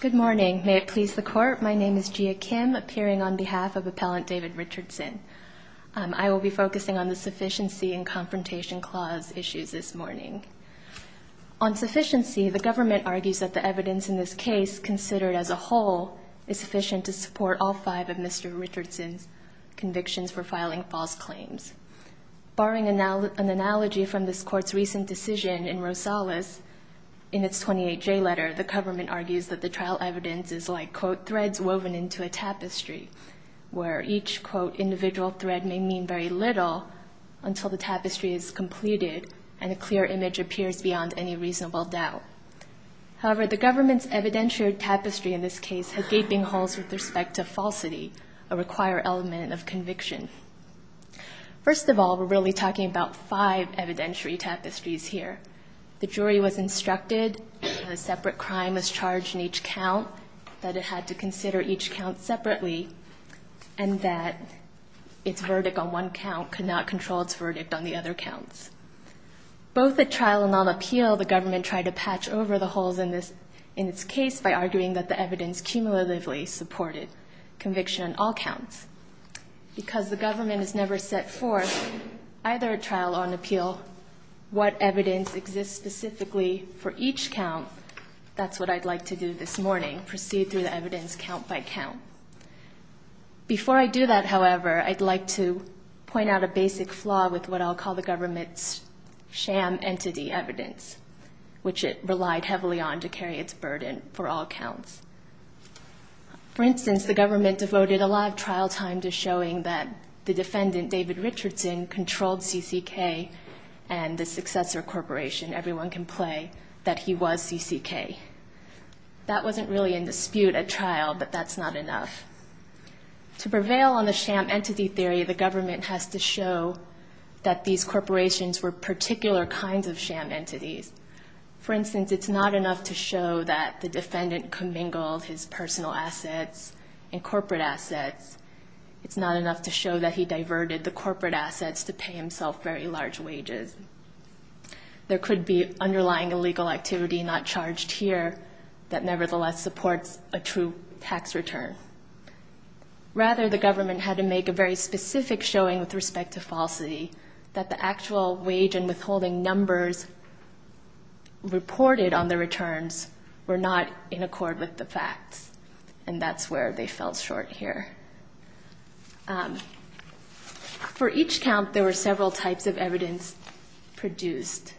Good morning. May it please the Court, my name is Gia Kim, appearing on behalf of Appellant David Richardson. I will be focusing on the Sufficiency and Confrontation Clause issues this morning. On sufficiency, the government argues that the evidence in this case, considered as a whole, is sufficient to support all five of Mr. Richardson's convictions for filing false claims. Barring an analogy from this Court's recent decision in Rosales, in its 28J letter, the government argues that the trial evidence is like, quote, threads woven into a tapestry, where each, quote, individual thread may mean very little until the tapestry is completed and a clear image appears beyond any reasonable doubt. However, the government's evidentiary tapestry in this case has gaping holes with respect to falsity, a required element of conviction. First of all, we're really talking about five evidentiary tapestries here. The jury was instructed that a separate crime was charged in each count, that it had to consider each count separately, and that its verdict on one count could not control its verdict on the other counts. Both at trial and on appeal, the government tried to patch over the holes in its case by arguing that the evidence cumulatively supported conviction on all counts. Because the government has never set forth, either at trial or on appeal, what evidence exists specifically for each count, that's what I'd like to do this morning, proceed through the evidence count by count. Before I do that, however, I'd like to point out a basic flaw with what I'll call the government's sham entity evidence, which it relied heavily on to carry its burden for all counts. For instance, the government devoted a lot of trial time to showing that the defendant, David Richardson, controlled CCK and the successor corporation, Everyone Can Play, that he was CCK. That wasn't really in dispute at trial, but that's not enough. To prevail on the sham entity theory, the government has to show that these corporations were particular kinds of sham entities. For instance, it's not enough to show that the defendant commingled his personal assets and corporate assets. It's not enough to show that he diverted the corporate assets to pay himself very large wages. There could be underlying illegal activity not charged here that nevertheless supports a true tax return. Rather, the government had to make a very specific showing with respect to falsity that the actual wage and withholding numbers reported on the returns were not in accord with the facts, and that's where they fell short here. For each count, there were several types of evidence produced.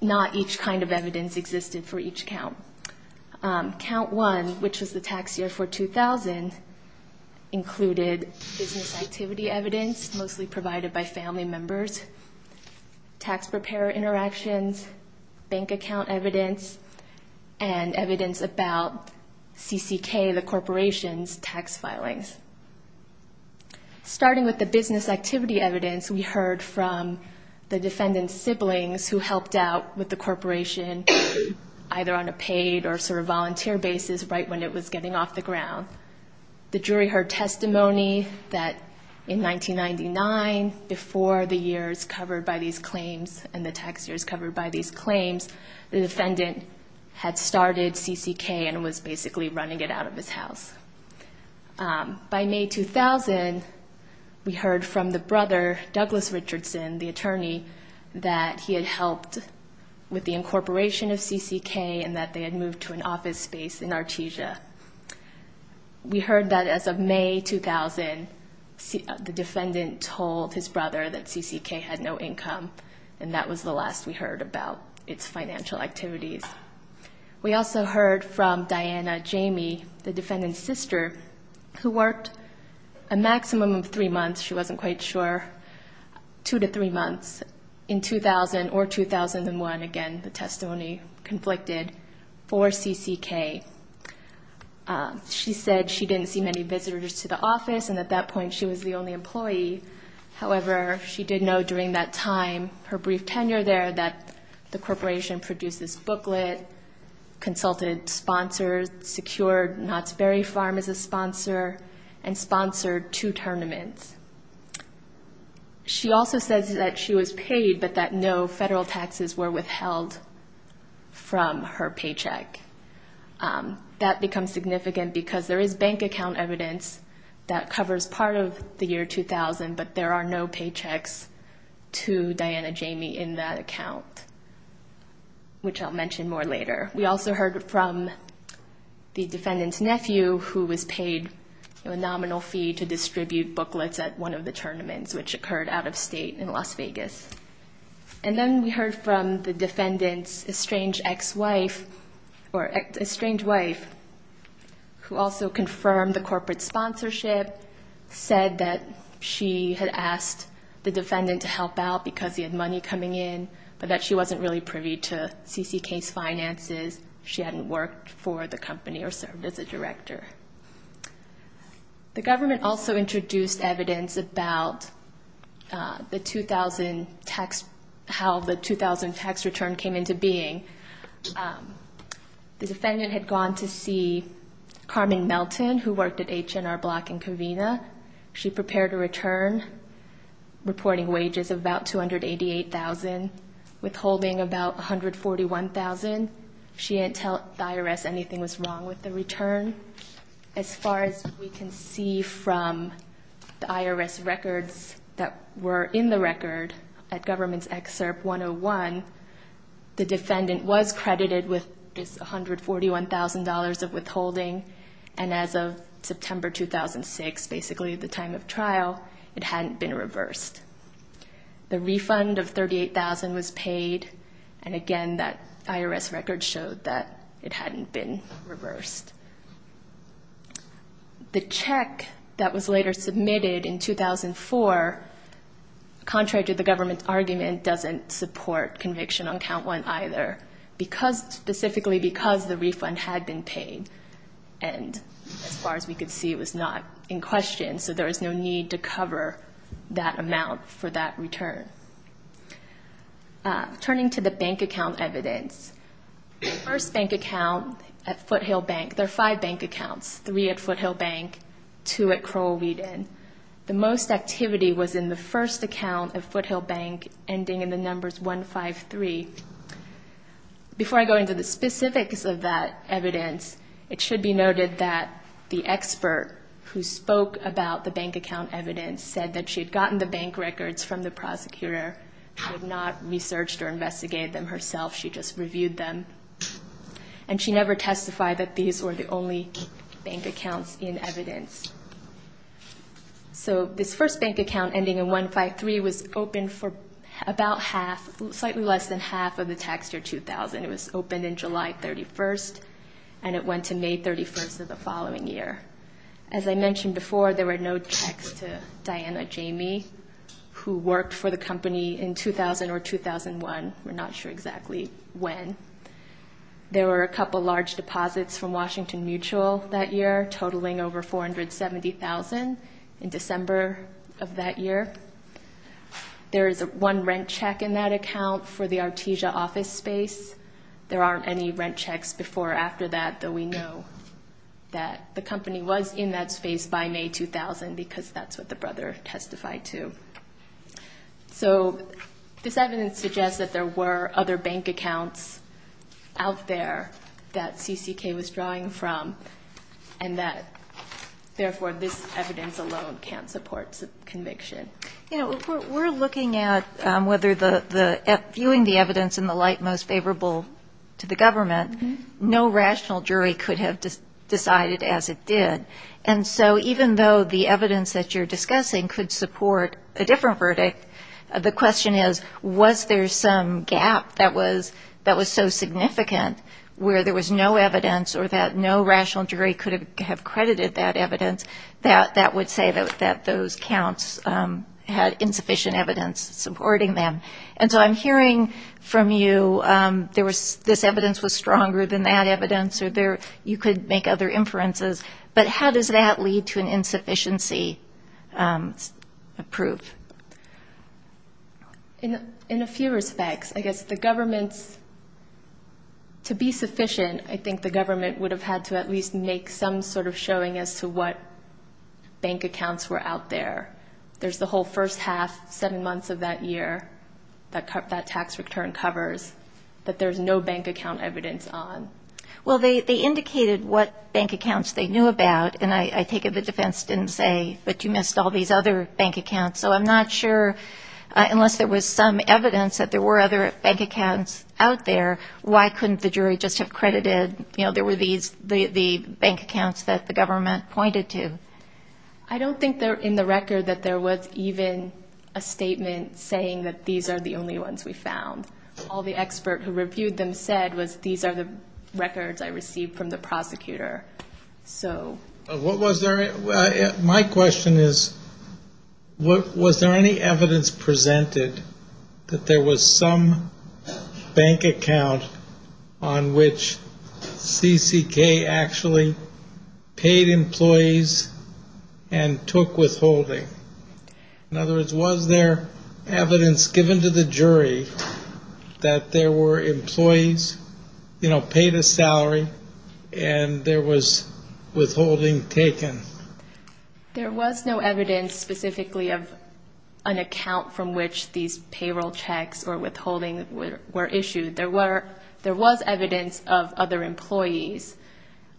Not each kind of evidence existed for each count. Count 1, which was the tax year for 2000, included business activity evidence mostly provided by family members, tax preparer interactions, bank account evidence, and evidence about CCK, the corporation's tax filings. Starting with the business activity evidence, we heard from the defendant's siblings who helped out with the corporation, either on a paid or sort of volunteer basis right when it was getting off the ground. The jury heard testimony that in 1999, before the years covered by these claims and the tax years covered by these claims, the defendant had started CCK and was basically running it out of his house. By May 2000, we heard from the brother, Douglas Richardson, the attorney, that he had helped with the incorporation of CCK and that they had moved to an office space in Artesia. We heard that as of May 2000, the defendant told his brother that CCK had no income, and that was the last we heard about its financial activities. We also heard from Diana Jamey, the defendant's sister, who worked a maximum of three months, she wasn't quite sure, two to three months in 2000 or 2001, again, the testimony conflicted, for CCK. She said she didn't see many visitors to the office, and at that point she was the only employee. However, she did know during that time, her brief tenure there, that the corporation produced this booklet, consulted sponsors, secured Knott's Berry Farm as a sponsor, and sponsored two books. She said that she was paid, but that no federal taxes were withheld from her paycheck. That becomes significant because there is bank account evidence that covers part of the year 2000, but there are no paychecks to Diana Jamey in that account, which I'll mention more later. We also heard from the defendant's nephew, who was paid a nominal fee to distribute booklets at one of the tournaments, which occurred out of state in Las Vegas. And then we heard from the defendant's estranged ex-wife, or estranged wife, who also confirmed the corporate sponsorship, said that she had asked the defendant to help out because he had money coming in, but that she wasn't really privy to CCK's finances. She hadn't worked for the company or served as a director. The government also introduced evidence about how the 2000 tax return came into being. The defendant had gone to see Carmen Melton, who worked at H&R Block in Covina. She prepared a return reporting wages of about $288,000, withholding about $141,000. She didn't tell IRS anything was wrong with the return. As far as we can see from the IRS records that were in the record, at Government's Excerpt 101, the defendant was credited with $141,000 of withholding, and as of September 2006, basically the time of trial, it hadn't been reversed. The refund of $38,000 was paid, and again, that IRS record showed that it hadn't been reversed. The check that was later submitted in 2004, contrary to the government's argument, doesn't support conviction on Count 1 either, specifically because the refund had been paid, and as far as we could see, it was not in question, so there was no need to cover that amount for that return. Turning to the bank account evidence, the first bank account at Foothill Bank, there are five bank accounts, three at Foothill Bank, two at Crowell-Wheaton. The most activity was in the first account at Foothill Bank, ending in the numbers 153. Before I go into the specifics of that evidence, it should be noted that the expert who spoke about the prosecutor had not researched or investigated them herself, she just reviewed them, and she never testified that these were the only bank accounts in evidence. So this first bank account, ending in 153, was open for about half, slightly less than half of the tax year 2000. It was open in July 31st, and it went to May 31st of the year for the company in 2000 or 2001, we're not sure exactly when. There were a couple large deposits from Washington Mutual that year, totaling over $470,000 in December of that year. There is one rent check in that account for the Artesia office space. There aren't any rent checks before or after that, though we know that the company was in that year 2000 because that's what the brother testified to. So this evidence suggests that there were other bank accounts out there that CCK was drawing from, and that, therefore, this evidence alone can't support conviction. You know, we're looking at whether the – viewing the evidence in the light most favorable to the government, no rational jury could have decided as it did. And so even though the evidence that you're discussing could support a different verdict, the question is was there some gap that was so significant where there was no evidence or that no rational jury could have credited that evidence that that would say that those counts had insufficient evidence supporting them. And so I'm hearing from you there was – this evidence was stronger than that evidence or there – you could make other inferences, but how does that lead to an insufficiency of proof? In a few respects. I guess the government's – to be sufficient, I think the government would have had to at least make some sort of showing as to what bank accounts were out there. There's the whole first half, seven months of that year that tax return covers that there's no bank account evidence on. Well, they indicated what bank accounts they knew about, and I take it the defense didn't say, but you missed all these other bank accounts. So I'm not sure – unless there was some evidence that there were other bank accounts out there, why couldn't the jury just have credited – you know, there were these – the bank accounts that the government pointed to. I don't think in the record that there was even a statement saying that these are the only ones we found. All the expert who reviewed them said was these are the records I received from the prosecutor. So – What was there – my question is, was there any evidence presented that there was some bank account on which CCK actually paid employees and took withholding? In other words, was there evidence given to the jury that there were employees, you know, paid a salary and there was withholding taken? There was no evidence specifically of an account from which these payroll checks or withholding were issued. There were – there was evidence of other employees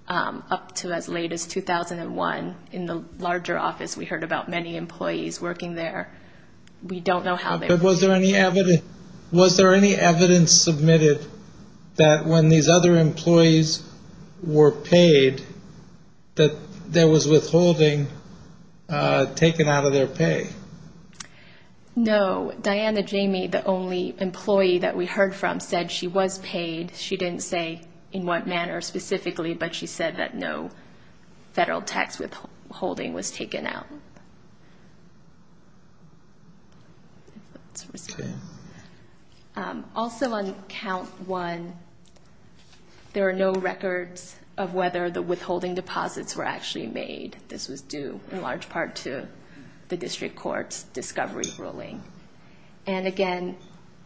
up to as late as 2001 in the larger office. We heard about many employees working there. We don't know how they – But was there any evidence – was there any evidence submitted that when these other employees were paid that there was withholding taken out of their pay? No. Diana Jamey, the only employee that we heard from, said she was paid. She didn't say in what manner specifically, but she said that no federal tax withholding was taken out. Let's resume. Also on count one, there are no records of whether the withholding deposits were actually made. This was due in large part to the district court's discovery ruling. And again,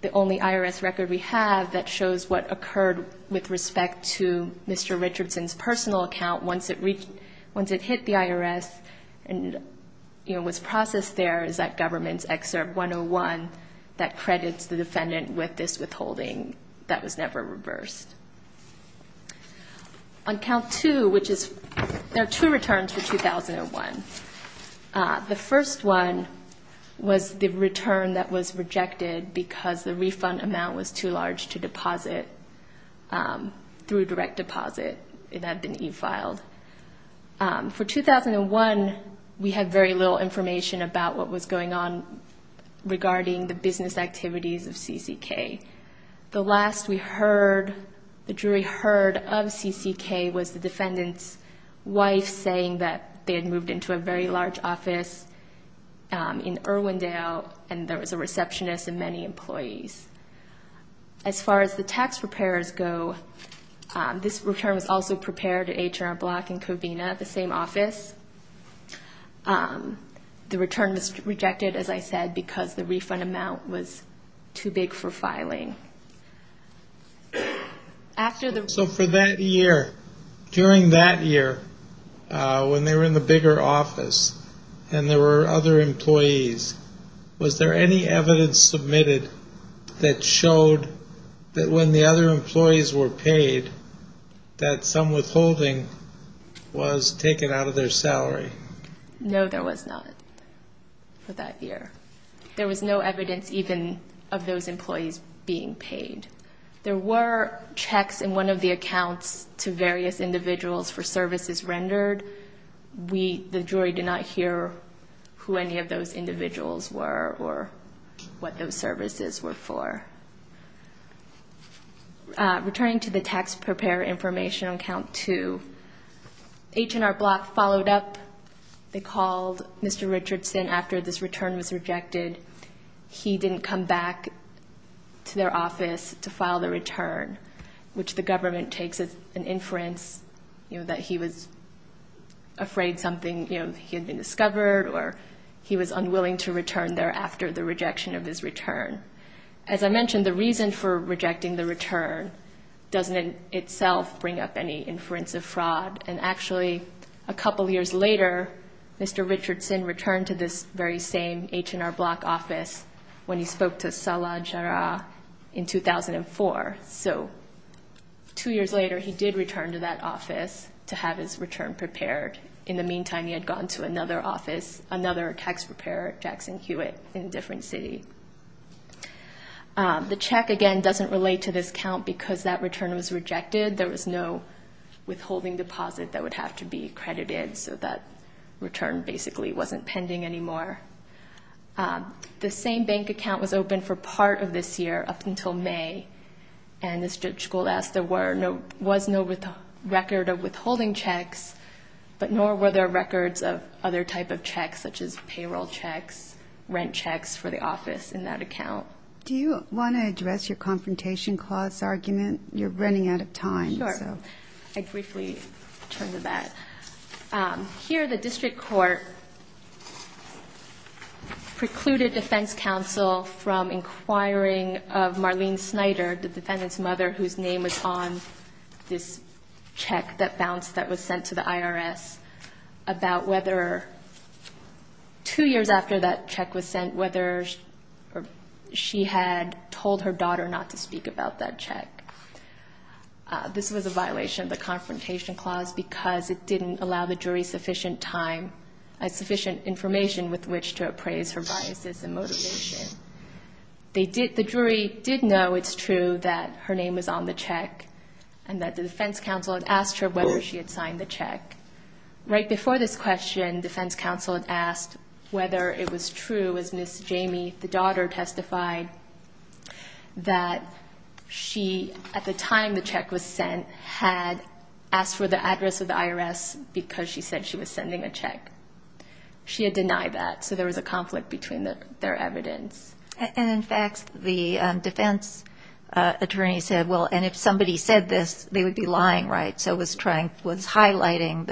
the only IRS record we have that shows what occurred with respect to Mr. Richardson's personal account once it reached – once it hit the IRS and, you know, was processed there is that government's Excerpt 101 that credits the defendant with this withholding that was never reversed. On count two, which is – there are two returns for 2001. The first one was the return that was rejected because the refund amount was too large to deposit through direct deposit that had been e-filed. For 2001, we had very little information about what was going on The jury heard of CCK was the defendant's wife saying that they had moved into a very large office in Irwindale, and there was a receptionist and many employees. As far as the tax preparers go, this return was also prepared at H&R Block and Covina, the same office. The return was rejected, as I said, because the refund amount was too big for filing. After the – So for that year, during that year, when they were in the bigger office and there were other employees, was there any evidence submitted that showed that when the other employees were paid that some withholding was taken out of their salary? No, there was not for that year. There was no evidence even of those employees being paid. There were checks in one of the accounts to various individuals for services rendered. The jury did not hear who any of those individuals were or what those services were for. Returning to the tax preparer information on Count 2, H&R Block followed up. They called Mr. Richardson after this return was rejected. He didn't come back to their office to file the return, which the government takes as an inference, you know, that he was afraid something, you know, he had been discovered or he was unwilling to return there after the rejection of his return. As I mentioned, the reason for rejecting the return doesn't itself bring up any inference of fraud. And actually, a couple years later, Mr. Richardson returned to this very same H&R Block office when he spoke to Salah Jarrah in 2004. So two years later, he did return to that office to have his return prepared. In the meantime, he had gone to another office, another tax preparer, Jackson Hewitt, in a different city. The check, again, doesn't relate to this count because that return was rejected. There was no withholding deposit that would have to be accredited. So that return basically wasn't pending anymore. The same bank account was open for part of this year, up until May. And as Judge Gould asked, there was no record of withholding checks, but nor were there records of other type of checks such as payroll checks, rent checks for the office in that account. Do you want to address your confrontation clause argument? You're running out of time. Sure. I'd briefly turn to that. Here, the district court precluded defense counsel from inquiring of Marlene Snyder, the defendant's mother, whose name was on this check that bounced, that was sent to the IRS, about whether, two years after that check was sent, whether she had told her daughter not to speak about that check. This was a violation of the confrontation clause because it didn't allow the jury sufficient time, sufficient information with which to appraise her biases and motivation. They did, the jury did know it's true that her name was on the check and that the defense counsel had asked her whether she had signed the check. Right before this question, defense counsel had asked whether it was true, as Ms. Jamie, the daughter, testified that she, at the time the check was sent, had asked for the address of the IRS because she said she was sending a And in fact, the defense attorney said, well, and if somebody said this, they would be lying, right? So was trying, was highlighting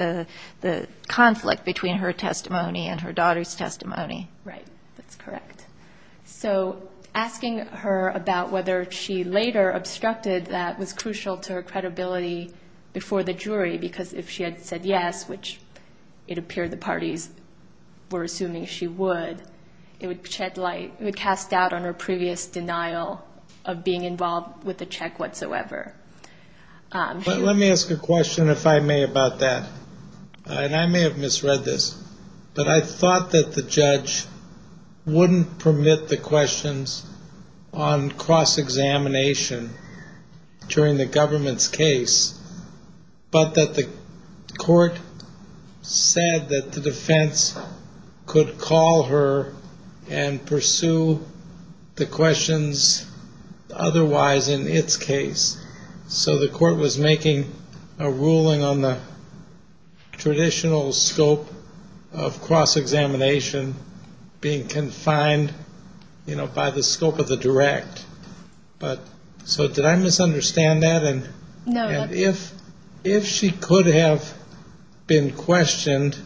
the conflict between her testimony and her daughter's testimony. Right. That's correct. So asking her about whether she later obstructed that was crucial to her credibility before the jury, because if she had said yes, which it appeared the parties were assuming she would, it would shed light, it would cast doubt on her previous denial of being involved with the check whatsoever. Let me ask a question, if I may, about that. And I may have misread this, but I thought that the judge wouldn't permit the questions on cross-examination during the government's case, but that the court said that the defense could call her and pursue the questions otherwise in its case. So the court was making a ruling on the traditional scope of cross-examination being confined, you know, by the scope of the direct. But so did I misunderstand that? And if she could have been questioned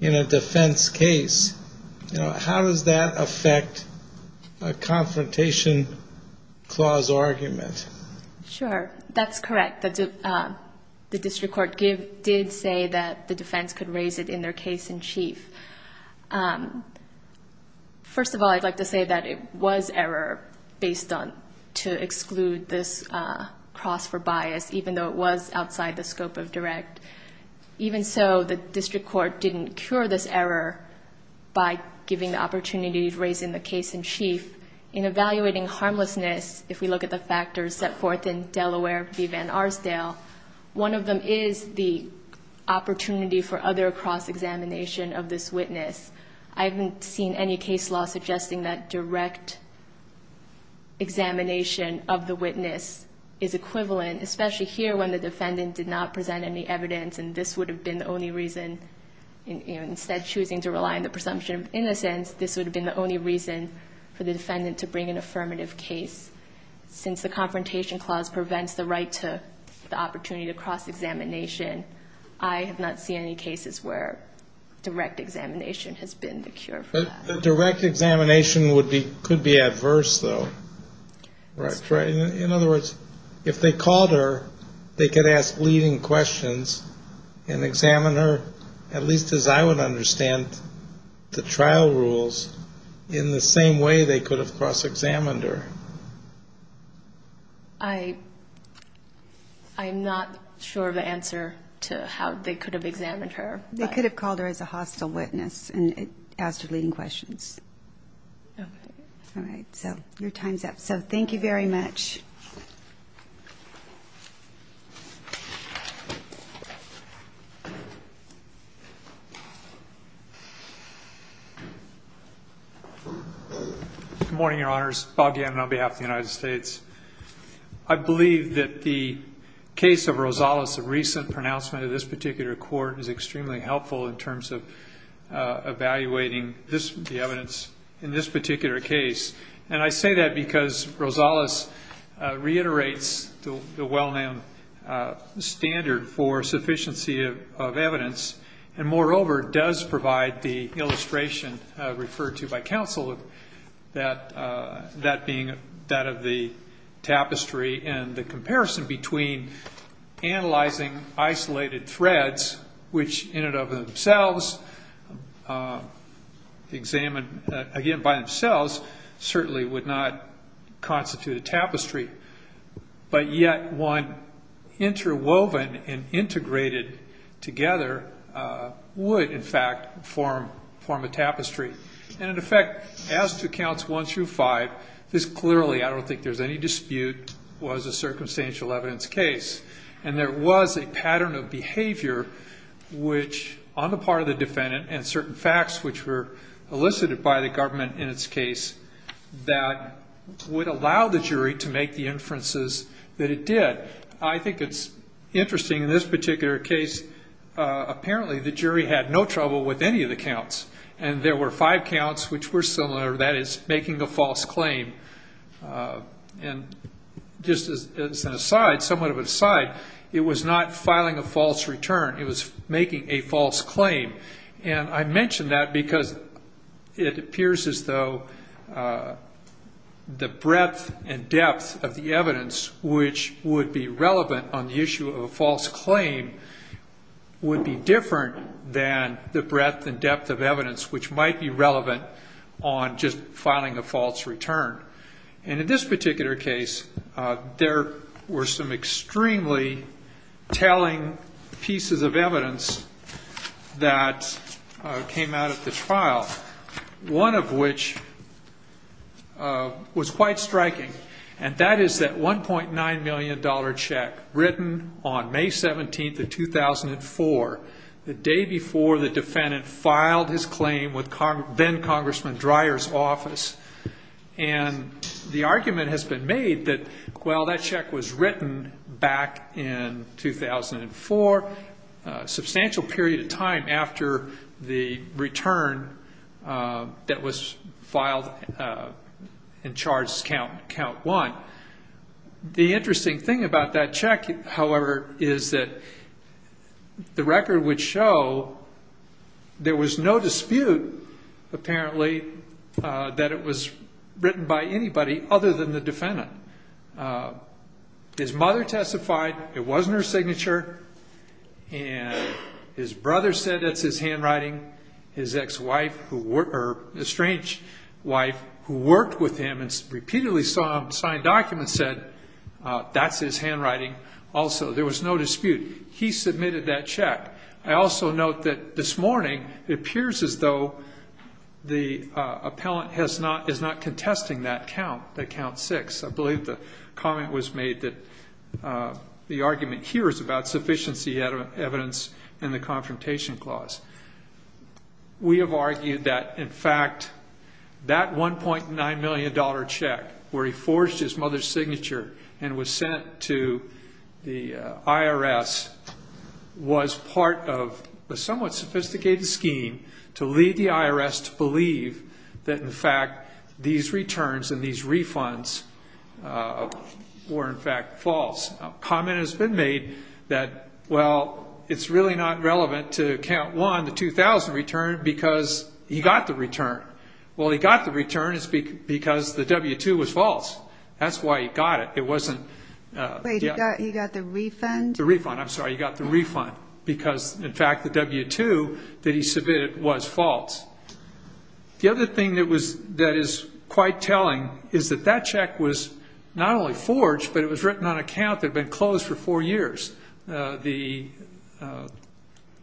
in a defense case, you know, how does that affect a confrontation clause argument? Sure. That's correct. The district court did say that the defense could raise it in their case in chief. First of all, I'd like to say that it was error based on to exclude this cross for bias, even though it was outside the scope of direct. Even so, the district court didn't cure this error by giving the opportunity to raise in the case in chief. In evaluating harmlessness, if we look at the factors set forth in Delaware v. Van Arsdale, one of them is the opportunity for other cross-examination of this witness. I haven't seen any case law suggesting that direct examination of the witness is equivalent, especially here when the defendant did not present any evidence and this would have been the only reason, you know, instead of choosing to rely on the presumption of innocence, this would have been the only reason for the defendant to bring an affirmative case. Since the confrontation clause prevents the right to the opportunity to cross-examination, I have not seen any cases where direct examination has been the cure for that. Direct examination would be, could be adverse, though. That's right. In other words, if they called her, they could ask leading questions and examine her, at least as I would understand the trial rules, in the same way they could have examined her. I'm not sure of the answer to how they could have examined her. They could have called her as a hostile witness and asked her leading questions. Okay. All right, so your time's up. So thank you very much. Good morning, Your Honors. Bob Gannon on behalf of the United States. I believe that the case of Rosales, the recent pronouncement of this particular court, is extremely helpful in terms of evaluating this, the evidence in this particular case. And I say that because Rosales reiterates the well-known standard for sufficiency of evidence, and moreover, does provide the illustration referred to by counsel, that being that of the tapestry and the comparison between analyzing isolated threads, which in and of themselves examined, again, by themselves, certainly would not constitute a tapestry. But yet one interwoven and integrated together would, in fact, form a tapestry. And in effect, as to counts one through five, this clearly, I don't think there's any dispute, was a circumstantial evidence case. And there was a pattern of behavior which, on the part of the defendant, and certain facts which were elicited by the government in its case, that would allow the jury to make the inferences that it did. I think it's interesting in this particular case, apparently the jury had no trouble with any of the counts. And there were five counts which were similar, that is, making a false claim. And just as an aside, somewhat of And I mention that because it appears as though the breadth and depth of the evidence which would be relevant on the issue of a false claim would be different than the breadth and depth of evidence which might be relevant on just filing a false return. And in this particular case, there were some extremely telling pieces of evidence that came out of the trial, one of which was quite striking. And that is that $1.9 million check written on May 17th of 2004, the day before the defendant filed his claim with then-Congressman Dreyer's office. And the argument has been made that, well, that check was written back in 2004, a substantial period of time after the return that was filed and charged count one. The interesting thing about that check, however, is that the record would show there was no dispute, apparently, that it was written by anybody other than the defendant. His mother testified it wasn't her signature. And his brother said that's his handwriting. His ex-wife, or estranged wife, who worked with him and repeatedly saw him sign documents said that's his handwriting also. There was no dispute. He submitted that check. I also note that this morning it appears as though the appellant is not contesting that count, that count six. I believe the comment was made that the argument here is about sufficiency of evidence in the confrontation clause. We have argued that, in fact, that $1.9 million check where he forged his mother's signature and was sent to the IRS was part of a somewhat sophisticated scheme to lead the IRS to believe that, in fact, these returns and these refunds were, in fact, false. A comment has been made that, well, it's really not relevant to count one, the 2000 return, because he got the return. Well, he got the return because the W-2 was false. That's why he got it. It wasn't Wait, he got the refund? The refund. I'm sorry. He got the refund because, in fact, the W-2 that he submitted was false. The other thing that is quite telling is that that check was not only forged, but it was written on a count that had been closed for four years. The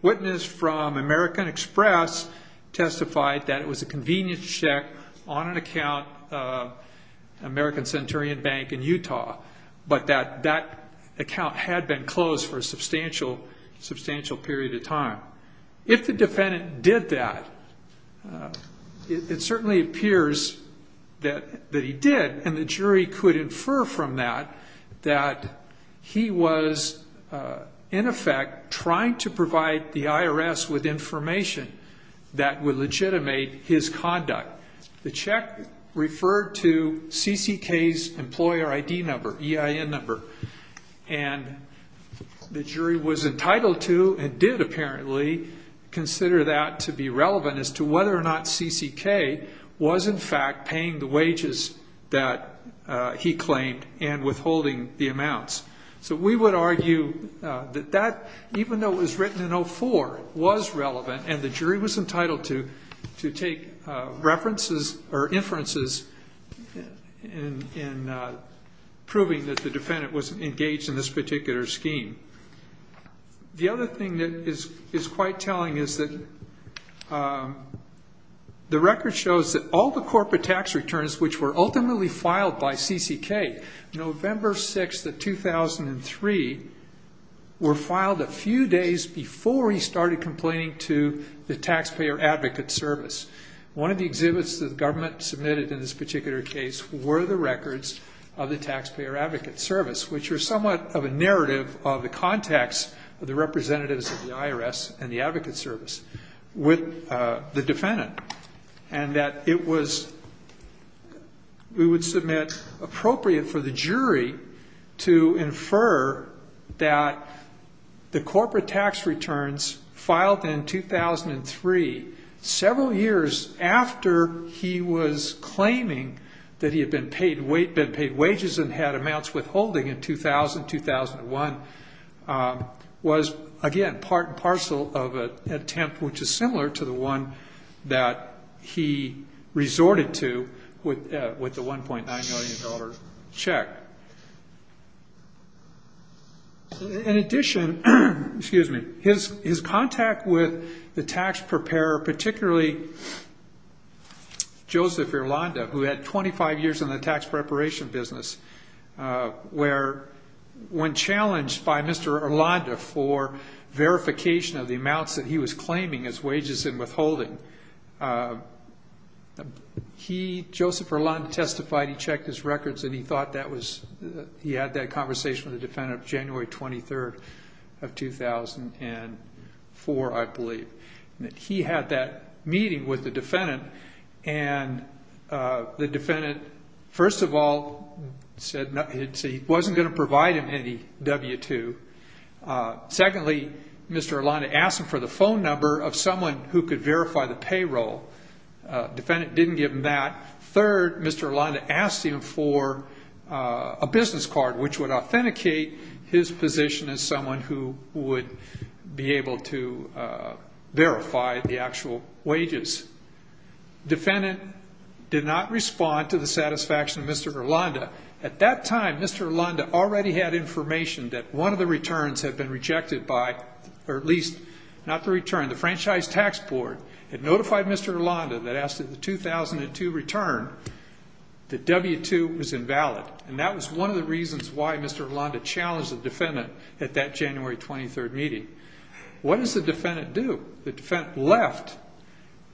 witness from American Express testified that it was a convenience check on an account of American Centurion Bank in Utah, but that account had been closed for a substantial period of time. If the defendant did that, it certainly appears that he did, and the jury could infer from that that he was, in effect, trying to provide the IRS with conduct. The check referred to CCK's employer ID number, EIN number, and the jury was entitled to and did, apparently, consider that to be relevant as to whether or not CCK was, in fact, paying the wages that he claimed and withholding the amounts. So we would argue that that, even though it was written in 04, was relevant, and the jury was entitled to take references or inferences in proving that the defendant was engaged in this particular scheme. The other thing that is quite telling is that the record shows that all the corporate tax returns, which were ultimately filed by CCK, November 6, 2003, were filed a few days before he started complaining to the Taxpayer Advocate Service. One of the exhibits that the government submitted in this particular case were the records of the Taxpayer Advocate Service, which are somewhat of a narrative of the context of the representatives of the IRS and the Advocate Service with the defendant, and that it was, we would submit, appropriate for the jury to infer that the corporate tax returns filed in 2003, several years after he was claiming that he had been paid wages and had amounts withholding in 2000-2001, was, again, part and parcel of an attempt which is similar to the one that he resorted to with the $1.9 million check. In addition, his contact with the tax preparer, particularly Joseph Irlanda, who had 25 years in the tax preparation business, where, when challenged by Mr. Irlanda for verification of the amounts that he was claiming as wages and withholding, he, Joseph Irlanda, testified, he checked his records, and he thought that was, he had that conversation with the defendant of January 23rd of 2004, I believe, and the defendant, first of all, said he wasn't going to provide him any W-2. Secondly, Mr. Irlanda asked him for the phone number of someone who could verify the payroll. Defendant didn't give him that. Third, Mr. Irlanda asked him for a business card which would authenticate his position as someone who would be able to verify the actual wages. Defendant did not respond to the satisfaction of Mr. Irlanda. At that time, Mr. Irlanda already had information that one of the returns had been rejected by, or at least, not the return, the Franchise Tax Board had notified Mr. Irlanda that after the 2002 return, the W-2 was invalid, and that was one of the reasons why Mr. Irlanda challenged the defendant at that January 23rd What does the defendant do? The defendant left,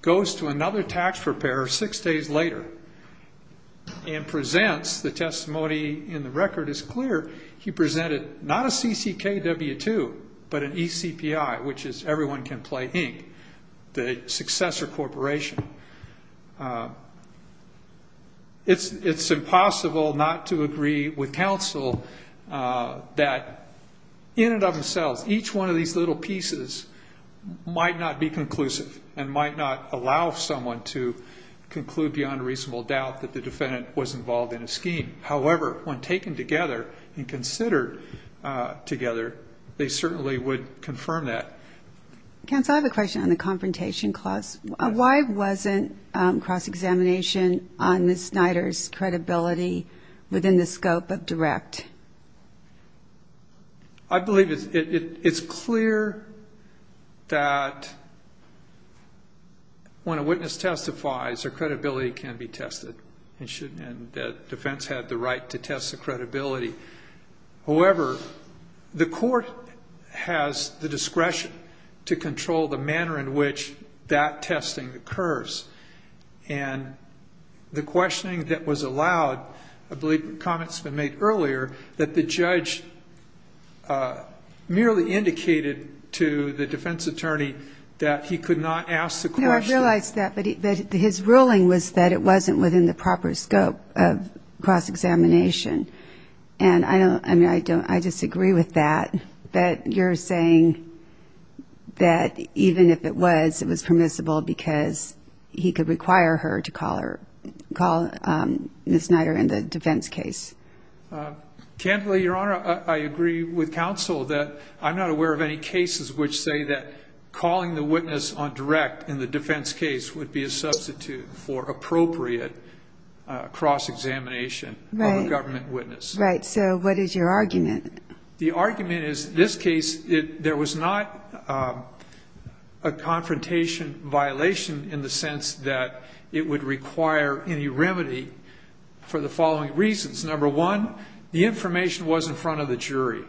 goes to another tax preparer six days later, and presents the testimony in the record as clear. He presented not a CCK W-2, but an ECPI, which is Everyone Can Play, Inc., the successor corporation. It's impossible not to agree with counsel that, in and of themselves, each one of these little pieces might not be conclusive and might not allow someone to conclude beyond reasonable doubt that the defendant was involved in a scheme. However, when taken together and considered together, they certainly would confirm that. Counsel, I have a question on the confrontation clause. Why wasn't cross-examination on Ms. Snyder's credibility within the scope of direct? I believe it's clear that when a witness testifies, their credibility can be tested, and defense had the right to test the credibility. However, the court has the discretion to control the manner in which that testing occurs, and the questioning that was allowed, I believe comments have been made earlier, that the judge merely indicated to the defense attorney that he could not ask the question. No, I realize that, but his ruling was that it wasn't within the proper scope of cross-examination, and I don't, I mean, I don't, I disagree with that, that you're saying that even if it was, it was permissible because he could require her to call her, call Ms. Snyder in the defense case. Candidly, Your Honor, I agree with counsel that I'm not aware of any cases which say that calling the witness on direct in the defense case would be a substitute for appropriate cross-examination of a government witness. Right, so what is your argument? The argument is this case, there was not a confrontation violation in the sense that it would require any remedy for the following reasons. Number one, the information was in front of the jury.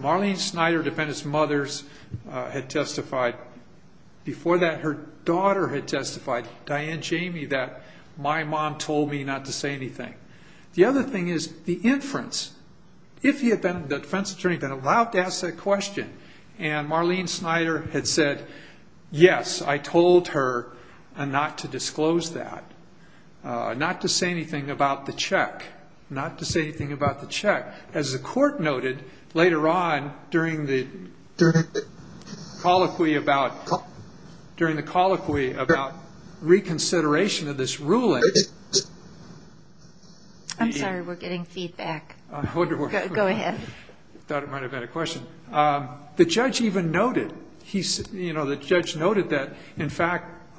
Marlene Snyder, defendant's mother, had testified. Before that, her daughter had testified, Diane Jamie, that my mom told me not to say anything. The other thing is the inference. If he had been, the defense attorney, been allowed to ask that question, and Marlene Snyder had said, yes, I told her not to disclose that, not to say anything about the check, not to say anything about the check. As the court noted later on during the colloquy about, during the colloquy about reconsideration of this ruling. I'm sorry, we're getting feedback. Go ahead. I thought it might have been a question. The judge noted that, in fact,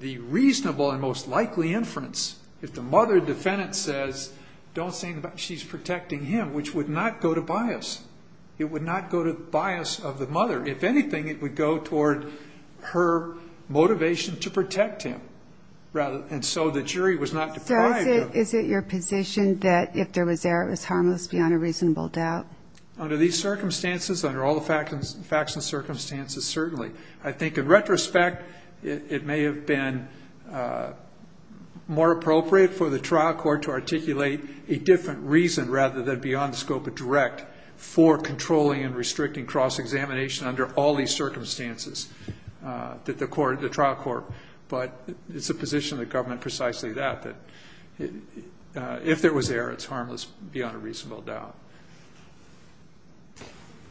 the reasonable and most likely inference, if the mother defendant says, don't say anything, she's protecting him, which would not go to bias. It would not go to bias of the mother. If anything, it would go toward her motivation to protect him. And so the jury was not deprived of it. So is it your position that if there was error, it was harmless beyond a reasonable doubt? Certainly. I think in retrospect, it may have been more appropriate for the trial court to articulate a different reason rather than beyond the scope of direct for controlling and restricting cross-examination under all these circumstances that the court, the trial court. But it's a position of the government precisely that, that if there was error, it's harmless beyond a reasonable doubt.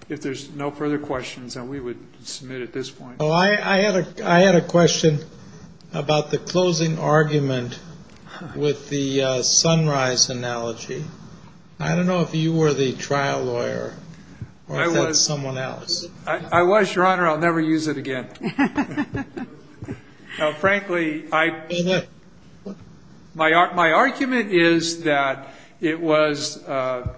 If there's no further questions, then we would submit at this point. Oh, I had a, I had a question about the closing argument with the sunrise analogy. I don't know if you were the trial lawyer or if that's someone else. I was, Your Honor. I'll never use it again. No, frankly, I, my, my argument is that it was a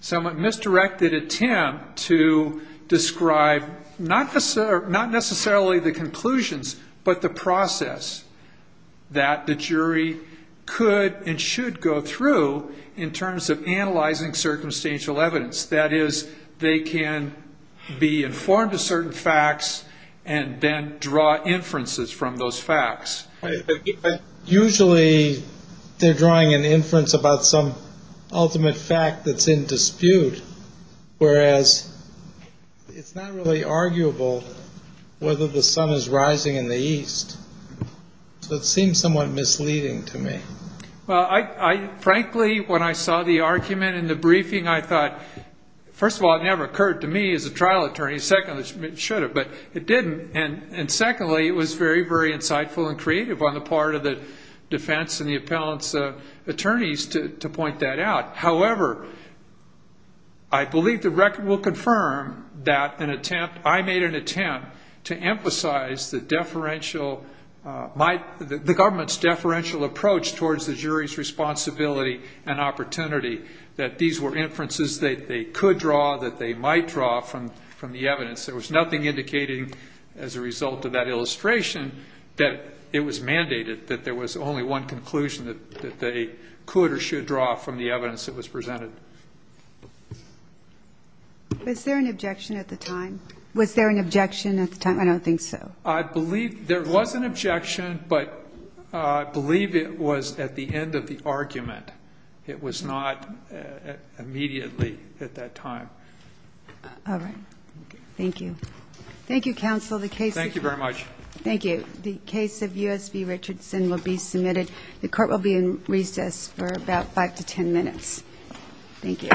somewhat misdirected attempt to describe not necessarily the conclusions, but the process that the jury could and should go through in terms of analyzing and then draw inferences from those facts. Usually they're drawing an inference about some ultimate fact that's in dispute, whereas it's not really arguable whether the sun is rising in the east. So it seems somewhat misleading to me. Well, I, I frankly, when I saw the argument in the briefing, I thought, first of all, it never occurred to me as a trial attorney. Second, it should have, but it didn't. And secondly, it was very, very insightful and creative on the part of the defense and the appellant's attorneys to point that out. However, I believe the record will confirm that an attempt, I made an attempt to emphasize the deferential, my, the government's deferential approach towards the jury's responsibility and opportunity, that these were inferences that they could draw, that they might draw from, from the evidence. There was nothing indicating as a result of that illustration that it was mandated, that there was only one conclusion that, that they could or should draw from the evidence that was presented. Was there an objection at the time? Was there an objection at the time? I don't think so. I believe there was an objection, but I believe it was at the end of the argument. It was not immediately at that time. All right. Thank you. Thank you, counsel. The case... Thank you very much. Thank you. The case of U.S. v. Richardson will be submitted. The court will be in recess for about 5 to 10 minutes. Thank you.